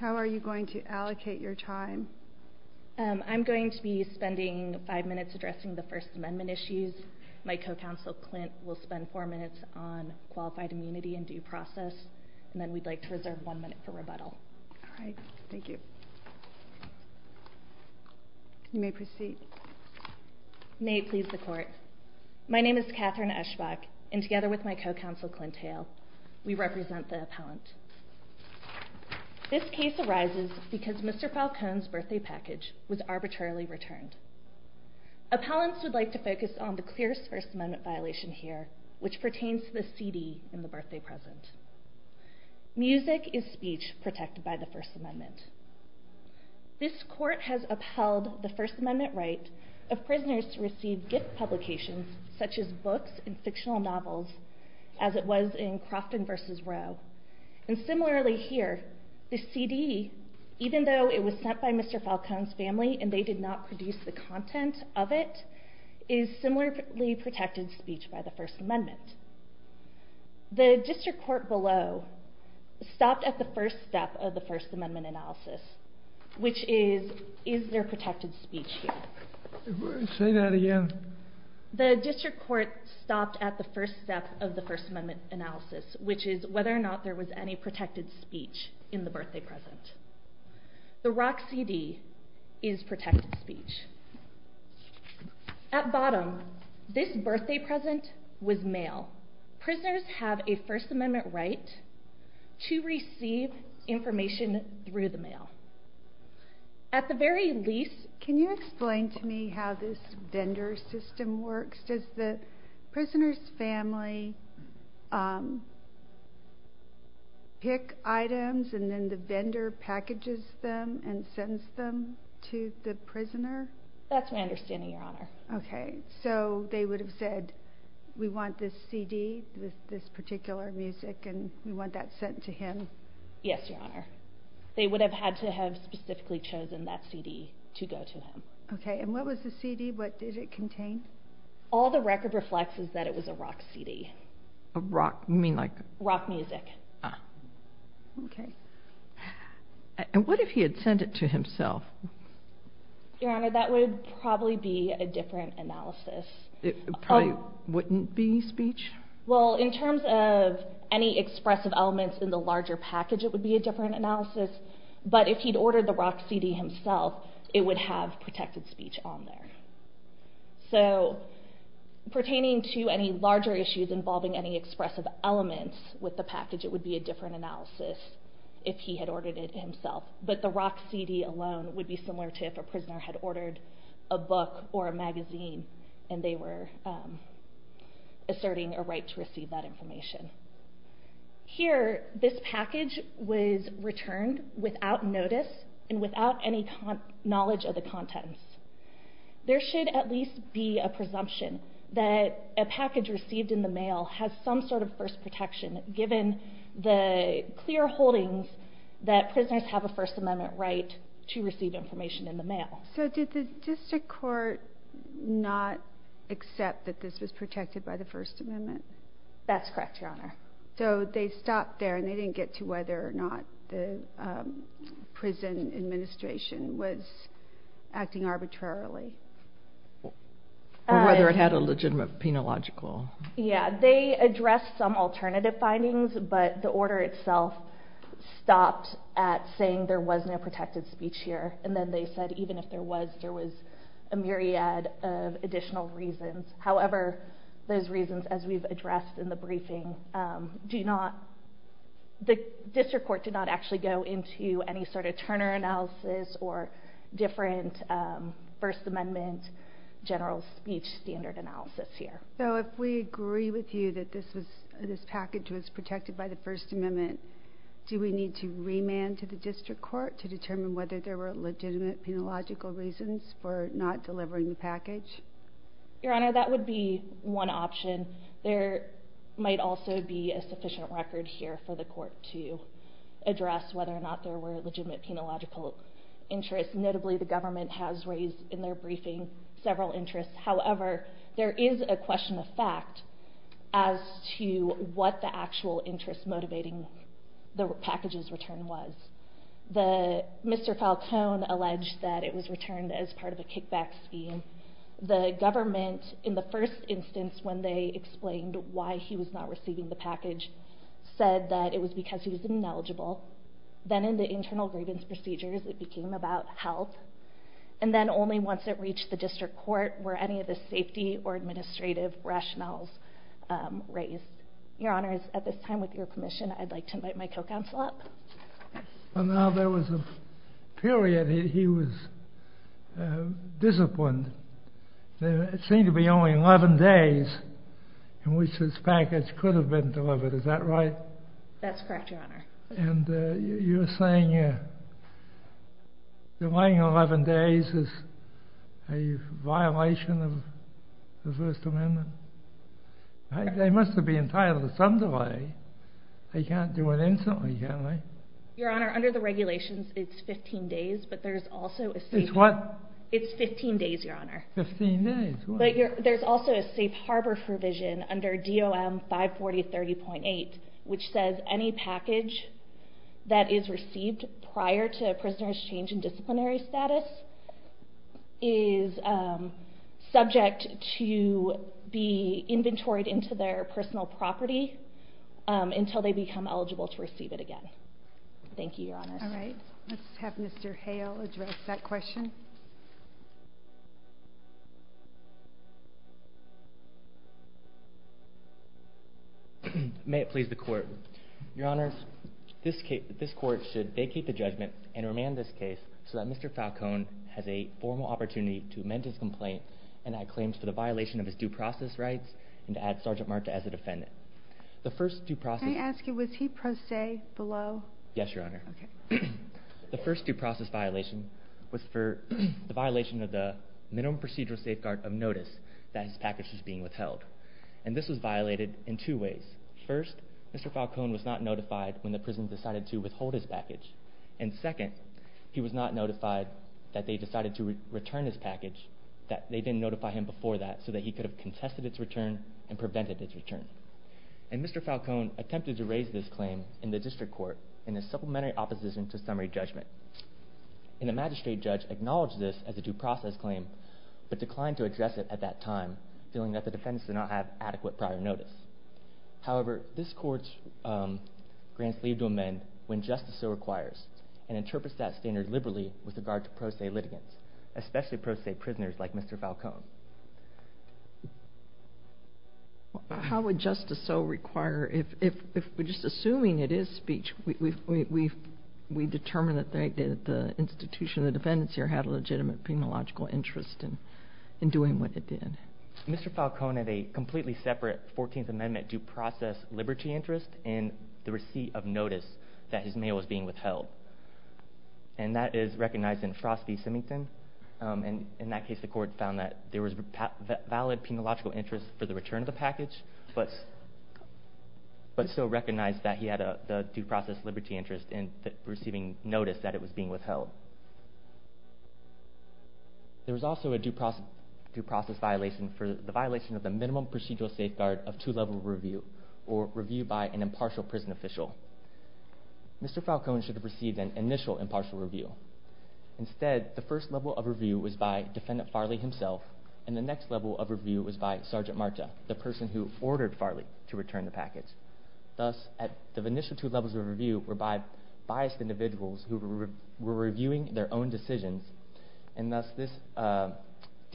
How are you going to allocate your time? I'm going to be spending five minutes addressing the First Amendment issues. My co-counsel, Clint, will spend four minutes on qualified immunity and due process, and then we'd like to reserve one minute for rebuttal. All right. Thank you. You may proceed. May it please the Court. My name is Catherine Eschbach, and together with my co-counsel, Clint Hale, we represent the appellant. This case arises because Mr. Falcon's birthday package was arbitrarily returned. Appellants would like to focus on the clearest First Amendment violation here, which pertains to the CD in the birthday present. Music is speech protected by the First Amendment. This Court has upheld the First Amendment right of prisoners to receive gift publications such as books and fictional novels, as it was in Crofton v. Rowe. And similarly here, the CD, even though it was sent by Mr. Falcon's family and they did not produce the content of it, is similarly protected speech by the First Amendment. The district court below stopped at the first step of the First Amendment analysis, which is, is there protected speech here? Say that again. The district court stopped at the first step of the First Amendment analysis, which is whether or not there was any protected speech in the birthday present. The Rock CD is protected speech. At bottom, this birthday present was mail. Prisoners have a First Amendment right to receive information through the mail. At the very least, can you explain to me how this vendor system works? Does the prisoner's family pick items and then the vendor packages them and sends them to the prisoner? That's my understanding, Your Honor. So they would have said, we want this CD, this particular music, and we want that sent to him? Yes, Your Honor. They would have had to have specifically chosen that CD to go to him. Okay, and what was the CD? What did it contain? All the record reflects is that it was a rock CD. A rock? You mean like? Rock music. Okay. And what if he had sent it to himself? Your Honor, that would probably be a different analysis. It probably wouldn't be speech? Well, in terms of any expressive elements in the larger package, it would be a different analysis. But if he'd ordered the rock CD himself, it would have protected speech on there. But the rock CD alone would be similar to if a prisoner had ordered a book or a magazine and they were asserting a right to receive that information. Here this package was returned without notice and without any knowledge of the contents. There should at least be a presumption that a package received in the mail has some sort of first protection, given the clear holdings that prisoners have a First Amendment right to receive information in the mail. So did the district court not accept that this was protected by the First Amendment? That's correct, Your Honor. So they stopped there and they didn't get to whether or not the prison administration was acting arbitrarily? Or whether it had a legitimate penological. Yeah, they addressed some alternative findings, but the order itself stopped at saying there was no protected speech here. And then they said even if there was, there was a myriad of additional reasons. However, those reasons, as we've addressed in the briefing, the district court did not actually go into any sort of Turner analysis or different First Amendment general speech standard analysis here. So if we agree with you that this was, this package was protected by the First Amendment, do we need to remand to the district court to determine whether there were legitimate penological reasons for not delivering the package? Your Honor, that would be one option. There might also be a sufficient record here for the court to address whether or not there were legitimate penological interests. Notably, the government has raised in their briefing several interests. However, there is a question of fact as to what the actual interest motivating the package's return was. The, Mr. Falcone alleged that it was returned as part of a kickback scheme. The government, in the first instance when they explained why he was not receiving the package, said that it was because he was ineligible. Then in the internal grievance procedures, it became about health. And then only once it reached the district court were any of the safety or administrative rationales raised. Your Honor, at this time, with your permission, I'd like to invite my co-counsel up. Well, now there was a period he was disciplined. There seemed to be only 11 days in which this package could have been delivered. Is that right? That's correct, Your Honor. And you're saying delaying 11 days is a violation of the First Amendment? They must have been entitled to some delay. They can't do it instantly, can they? Your Honor, under the regulations, it's 15 days. But there's also a safe harbor provision under DOM 54030.8, which says any package that is received prior to a prisoner's change in disciplinary status is subject to be inventoried into their personal property until they become eligible to receive it again. Thank you, Your Honor. All right. Let's have Mr. Hale address that question. May it please the Court. Your Honor, this Court should vacate the judgment and remand this case so that Mr. Falcone has a formal opportunity to amend his complaint and add claims for the violation of his due process rights and to add Sergeant Marta as a defendant. The first due process... Can I ask you, was he pro se below? Yes, Your Honor. The first due process violation was for the violation of the minimum procedural safeguard of notice that his package was being withheld. And this was violated in two ways. First, Mr. Falcone was not notified when the prison decided to withhold his package. And second, he was not notified that they decided to return his package, that they didn't notify him before that so that he could have contested its return and prevented its return. And Mr. Falcone attempted to raise this claim in the district court in a supplementary opposition to summary judgment. And the magistrate judge acknowledged this as a due process claim, but declined to address it at that time, feeling that the defendants did not have adequate prior notice. However, this Court grants leave to amend when justice so requires and interprets that standard liberally with regard to pro se litigants, especially pro se prisoners like Mr. Falcone. How would justice so require, if we're just assuming it is speech, we determine that the institution of the defendants here had a legitimate penological interest in doing what it did? Mr. Falcone had a completely separate 14th Amendment due process liberty interest in the receipt of notice that his mail was being withheld. And that is recognized in Frost v. Symington. In that case, the Court found that there was valid penological interest for the return of the package, but still recognized that he had a due process liberty interest in receiving notice that it was being withheld. There was also a due process violation for the violation of the minimum procedural safeguard of two-level review, or review by an impartial prison official. Mr. Falcone should have received an initial impartial review. Instead, the first level of review was by Defendant Farley himself, and the next level of review was by Sergeant Marta, the person who ordered Farley to return the package. Thus, the initial two levels of review were by biased individuals who were reviewing their own decisions, and thus this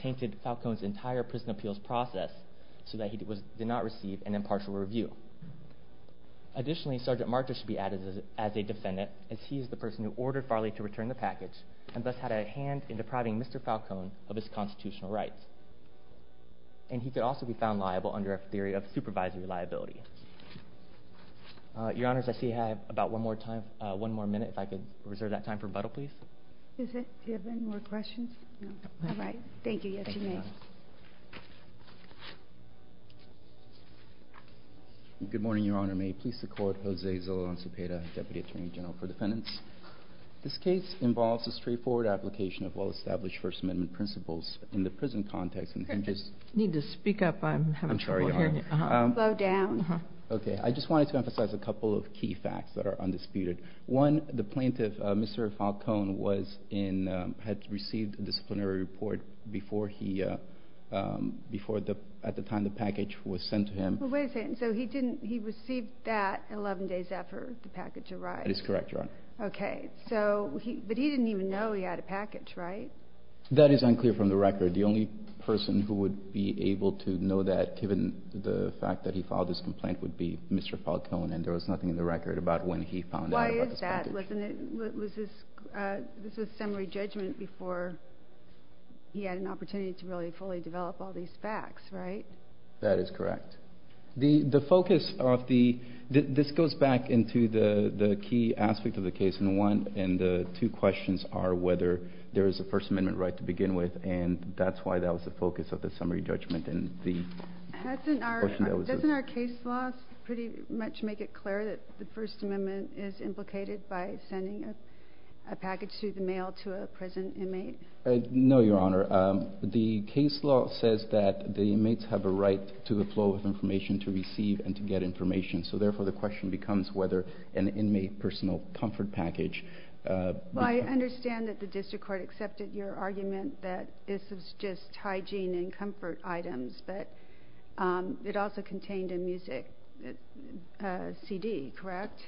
tainted Falcone's entire prison appeals process so that he did not receive an impartial review. Additionally, Sergeant Marta should be added as a defendant, as he is the person who ordered the return of the package, and thus had a hand in depriving Mr. Falcone of his constitutional rights. And he could also be found liable under a theory of supervisory liability. Your Honors, I see I have about one more time, one more minute, if I could reserve that time for rebuttal, please. Is it? Do you have any more questions? All right. Thank you. Yes, you may. Thank you, Your Honor. Good morning, Your Honor. May it please the Court, Jose Zola-Lanzapeta, Deputy Attorney General for Defendants. This case involves a straightforward application of well-established First Amendment principles in the prison context. And just… You need to speak up. I'm having trouble hearing you. I'm sorry, Your Honor. Slow down. Okay. I just wanted to emphasize a couple of key facts that are undisputed. One, the plaintiff, Mr. Falcone, was in, had received a disciplinary report before he, before the, at the time the package was sent to him. Wait a second. So he didn't, he received that 11 days after the package arrived? That is correct, Your Honor. Okay. So he, but he didn't even know he had a package, right? That is unclear from the record. The only person who would be able to know that, given the fact that he filed this complaint, would be Mr. Falcone, and there was nothing in the record about when he found out about the package. Why is that? Wasn't it, was this, this was summary judgment before he had an opportunity to really fully develop all these facts, right? That is correct. The, the focus of the, this goes back into the, the key aspect of the case in one, and the two questions are whether there is a First Amendment right to begin with, and that's why that was the focus of the summary judgment, and the question that was just... Hasn't our, doesn't our case law pretty much make it clear that the First Amendment is implicated by sending a package through the mail to a prison inmate? No, Your Honor. The case law says that the inmates have a right to the flow of information to receive and to get information, so therefore the question becomes whether an inmate personal comfort package... Well, I understand that the district court accepted your argument that this was just hygiene and comfort items, but it also contained a music CD, correct?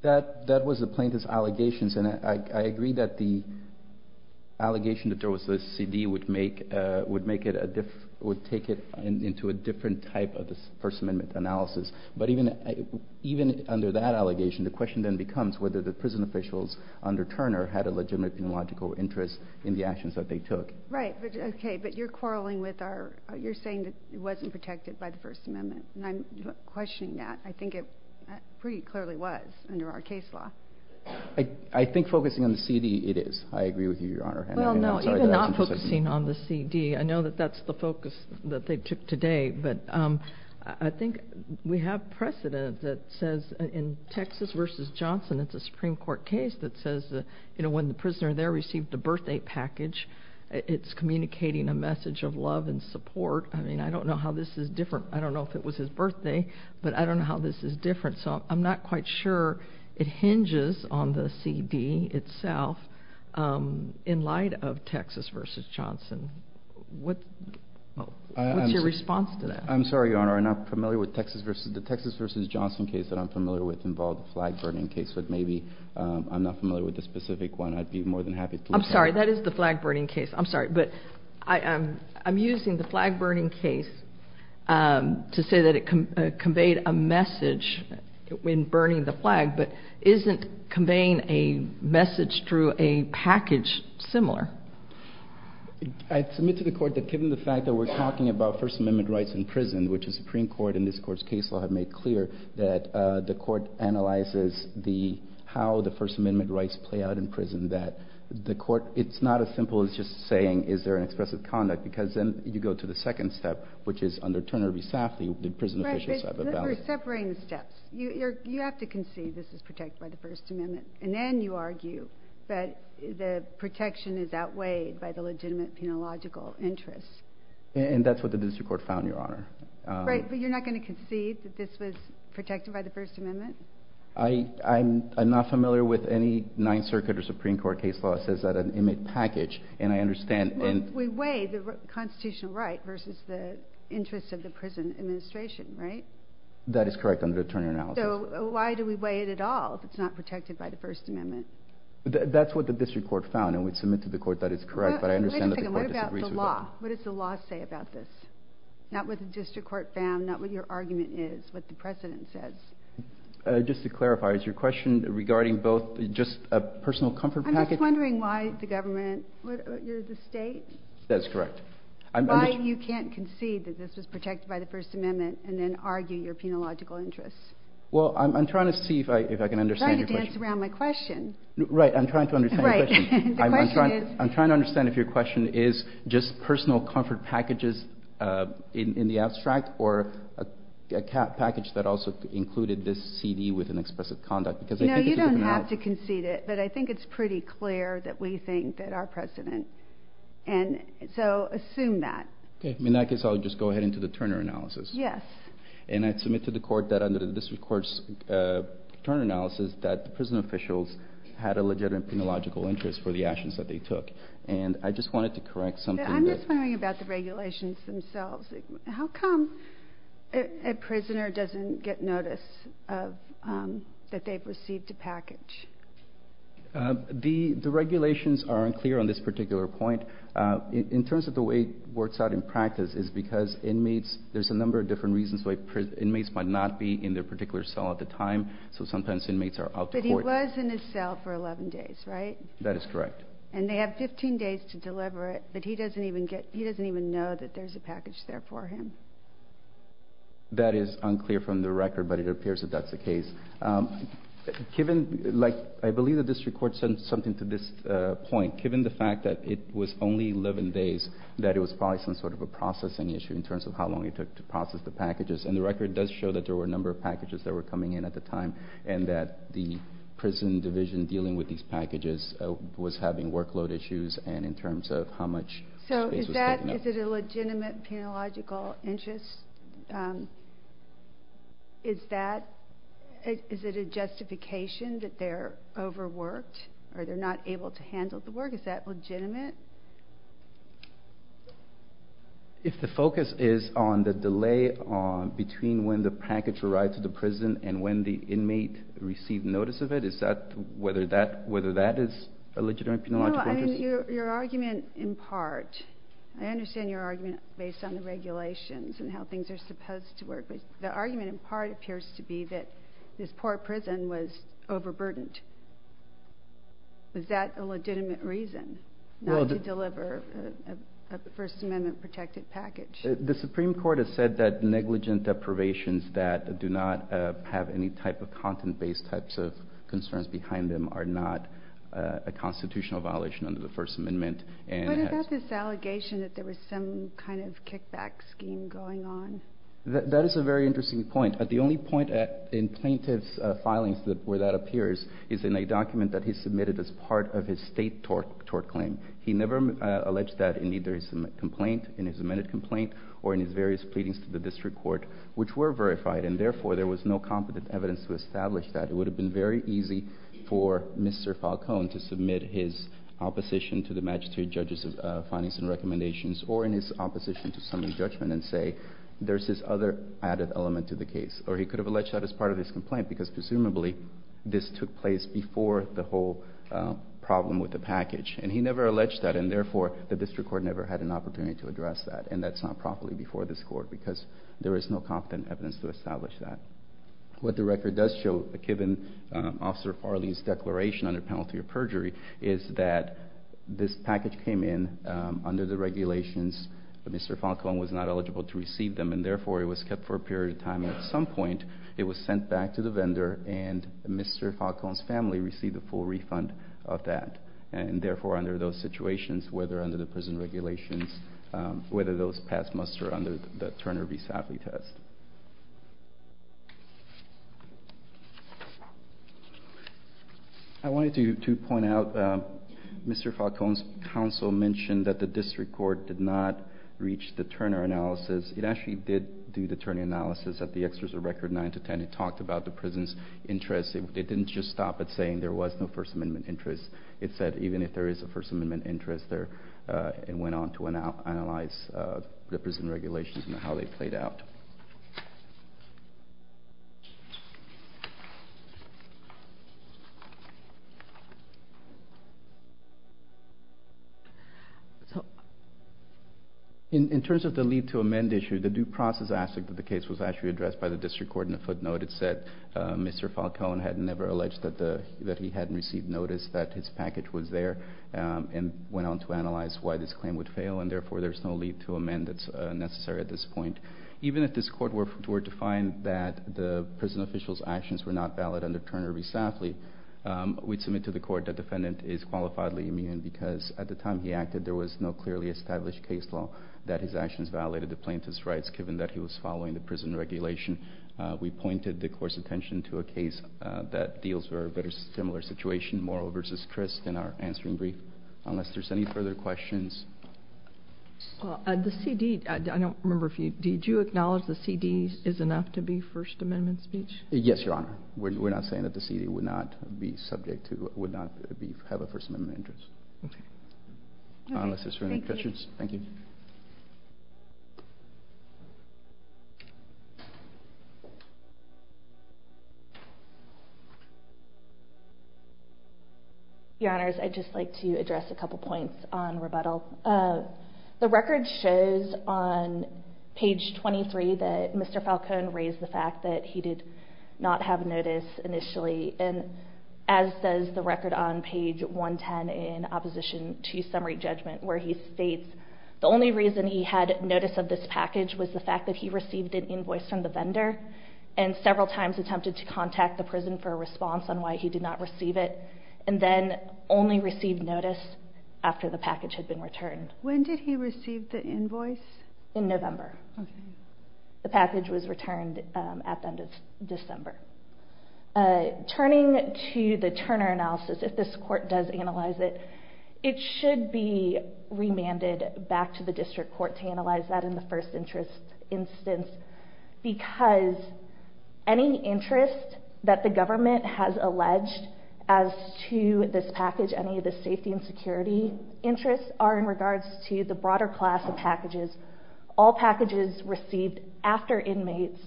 That, that was the plaintiff's allegations, and I, I agree that the allegation that there was a CD would make, would make it a, would take it into a different type of the First Amendment analysis, but even, even under that allegation, the question then becomes whether the prison officials under Turner had a legitimate and logical interest in the actions that they took. Right, okay, but you're quarreling with our, you're saying that it wasn't protected by the First Amendment, and I'm questioning that. I think it pretty clearly was under our case law. I think focusing on the CD, it is. I agree with you, Your Honor. Well, no, even not focusing on the CD, I know that that's the focus that they took today, but I think we have precedent that says in Texas v. Johnson, it's a Supreme Court case that says that, you know, when the prisoner there received a birthday package, it's communicating a message of love and support. I mean, I don't know how this is different. I don't know if it was his birthday, but I don't know how this is different. So I'm not quite sure it hinges on the CD itself in light of Texas v. Johnson. What's your response to that? I'm sorry, Your Honor, I'm not familiar with Texas v. The Texas v. Johnson case that I'm familiar with involved a flag burning case, but maybe I'm not familiar with the specific one. I'd be more than happy to look into that. I'm sorry, that is the flag burning case. I'm sorry, but I'm using the flag burning case to say that it conveyed a message when burning the flag, but isn't conveying a message through a package similar? I submit to the Court that given the fact that we're talking about First Amendment rights in prison, which the Supreme Court and this Court's case law have made clear, that the Court analyzes how the First Amendment rights play out in prison, that the Court analyzes how the First Amendment rights play out in prison, and that the Court analyzes That's what the Supreme Court says. It's not as simple as just saying is there an expressive conduct because then you go to the second step, which is under Turner v. Safley, the prison official side of the balance. Right, but you're separating the steps. You have to concede this is protected by the First Amendment, and then you argue that the protection is outweighed by the legitimate penological interests. And that's what the district court found, Your Honor. Right, but you're not going to concede that this was protected by the First Amendment? individual's rights are protected by the First Amendment. And I understand and We weigh the constitutional right versus the interests of the prison administration, right? That is correct under the Turner analysis. So why do we weigh it at all if it's not protected by the First Amendment? That's what the district court found, and we submit to the Court that it's correct, but I understand that the Court disagrees with that. Wait a second. What about the law? What does the law say about this? Not what the district court found, not what your argument is, what the precedent says. Just to clarify, is your question regarding both just a personal comfort package I'm just wondering why the government, you're the state? That's correct. Why you can't concede that this was protected by the First Amendment and then argue your penological interests? Well, I'm trying to see if I can understand your question. I'm trying to dance around my question. Right, I'm trying to understand your question. Right, the question is I'm trying to understand if your question is just personal comfort packages in the abstract or a package that also included this CD with an expressive conduct because I think it's pretty clear that we think that our precedent, and so assume that. Okay, in that case I'll just go ahead into the Turner analysis. Yes. And I submit to the Court that under the district court's Turner analysis that the prison officials had a legitimate penological interest for the actions that they took, and I just wanted to correct something that I'm just wondering about the regulations themselves. How come a prisoner doesn't get notice that they've received a package? The regulations are unclear on this particular point. In terms of the way it works out in practice is because inmates, there's a number of different reasons why inmates might not be in their particular cell at the time, so sometimes inmates are out to court. But he was in his cell for 11 days, right? That is correct. And they have 15 days to deliver it, but he doesn't even know that there's a package there for him. That is unclear from the record, but it appears that that's the case. Given, like, I believe the district court said something to this point. Given the fact that it was only 11 days, that it was probably some sort of a processing issue in terms of how long it took to process the packages, and the record does show that there were a number of packages that were coming in at the time, and that the prison division dealing with these packages was having workload issues, and in terms of how much space was taken up. So is that, is it a legitimate penological interest? Is that, is it a justification that they're overworked, or they're not able to handle the work? Is that legitimate? If the focus is on the delay between when the package arrived to the prison and when the inmate received notice of it, is that, whether that, whether that is a legitimate penological interest? No, I mean, your argument in part, I understand your argument based on the regulations and how things are supposed to work, but the argument in part appears to be that this poor prison was overburdened. Is that a legitimate reason not to deliver a First Amendment-protected package? The Supreme Court has said that negligent deprivations that do not have any type of content-based types of concerns behind them are not a constitutional violation under the First Amendment. What about this allegation that there was some kind of kickback scheme going on? That is a very interesting point. The only point in plaintiff's filings where that appears is in a document that he submitted as part of his state tort claim. He never alleged that in either his complaint, in his amended complaint, or in his various pleadings to the district court, which were verified, and therefore there was no competent evidence to establish that. It would have been very easy for Mr. Falcone to submit his opposition to the Magistrate Judges of Finance and Recommendations or in his opposition to summary judgment and say there's this other added element to the case. Or he could have alleged that as part of his complaint, because presumably this took place before the whole problem with the package. And he never alleged that, and therefore the district court never had an opportunity to address that, and that's not properly before this Court, because there is no competent evidence to establish that. What the record does show, given Officer Farley's declaration under penalty of perjury, is that this package came in under the regulations. Mr. Falcone was not eligible to receive them, and therefore it was kept for a period of time, and at some point it was sent back to the vendor, and Mr. Falcone's family received a full refund of that. And therefore under those situations, whether under the prison regulations, whether those pass muster under the Turner v. Safley test. I wanted to point out Mr. Falcone's counsel mentioned that the district court did not reach the Turner analysis. It actually did do the Turner analysis at the extras of record 9 to 10. It talked about the prison's interest. It didn't just stop at saying there was no First Amendment interest. It said even if there is a First Amendment interest there, and went on to analyze the prison regulations and how they played out. In terms of the lead to amend issue, the due process aspect of the case was actually addressed by the district court in a footnote. It said Mr. Falcone had never alleged that he hadn't received notice that his package was there, and went on to analyze why this claim would fail, and therefore there's no lead to amend that's necessary at this point. Even if this court were to find that the prison official's actions were not valid under Turner v. Safley, we'd submit to the court that defendant is qualifiably immune because at the time he acted there was no clearly established case law that his actions violated the plaintiff's rights given that he was following the prison regulation. We pointed the court's attention to a case that deals with a very similar situation, Morrow v. Christ, in our answering brief. Unless there's any further questions. Well, the CD, I don't remember if you, did you acknowledge the CD is enough to be First Amendment speech? Yes, Your Honor. We're not saying that the CD would not be subject to, would not have a First Amendment interest. Okay. Unless there's any questions. Thank you. Your Honors, I'd just like to address a couple points on rebuttal. The record shows on page 23 that Mr. Falcone raised the fact that he did not have notice initially and as does the record on page 110 in opposition to summary judgment where he states the only reason he had notice of this package was the fact that he received an invoice from the vendor and several times attempted to contact the prison for a response on why he did not receive it and then only received notice after the package had been returned. When did he receive the invoice? In November. Okay. The package was returned at the end of December. Turning to the Turner analysis, if this court does analyze it, it should be remanded back to the district court to analyze that in the first instance because any interest that the court alleged as to this package, any of the safety and security interests are in regards to the broader class of packages. All packages received after inmates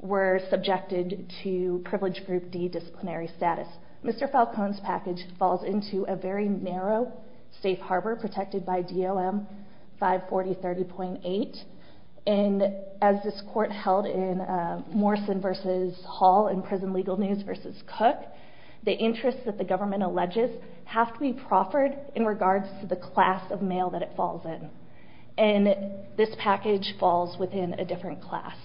were subjected to Privilege Group D disciplinary status. Mr. Falcone's package falls into a very narrow safe harbor protected by DLM 54030.8 and as this court held in Morrison v. Hall in Prison Legal News v. Cook, the interests that the government alleges have to be proffered in regards to the class of mail that it falls in and this package falls within a different class.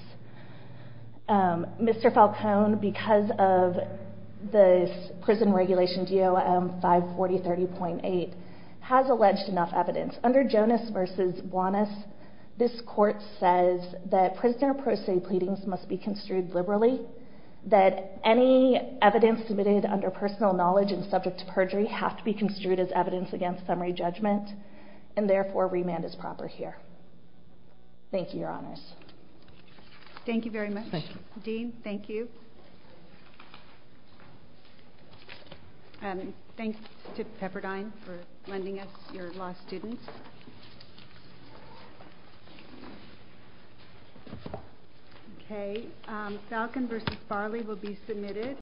Mr. Falcone, because of the prison regulation DLM 54030.8, has alleged enough evidence. Under Jonas v. Buonas, this court says that prisoner pro se pleadings must be construed liberally, that any evidence submitted under personal knowledge and subject to perjury have to be construed as evidence against summary judgment and therefore remand is proper here. Thank you, Your Honors. Thank you very much. Dean, thank you. Thanks to Pepperdine for lending us your lost students. Okay, Falcone v. Farley will be submitted.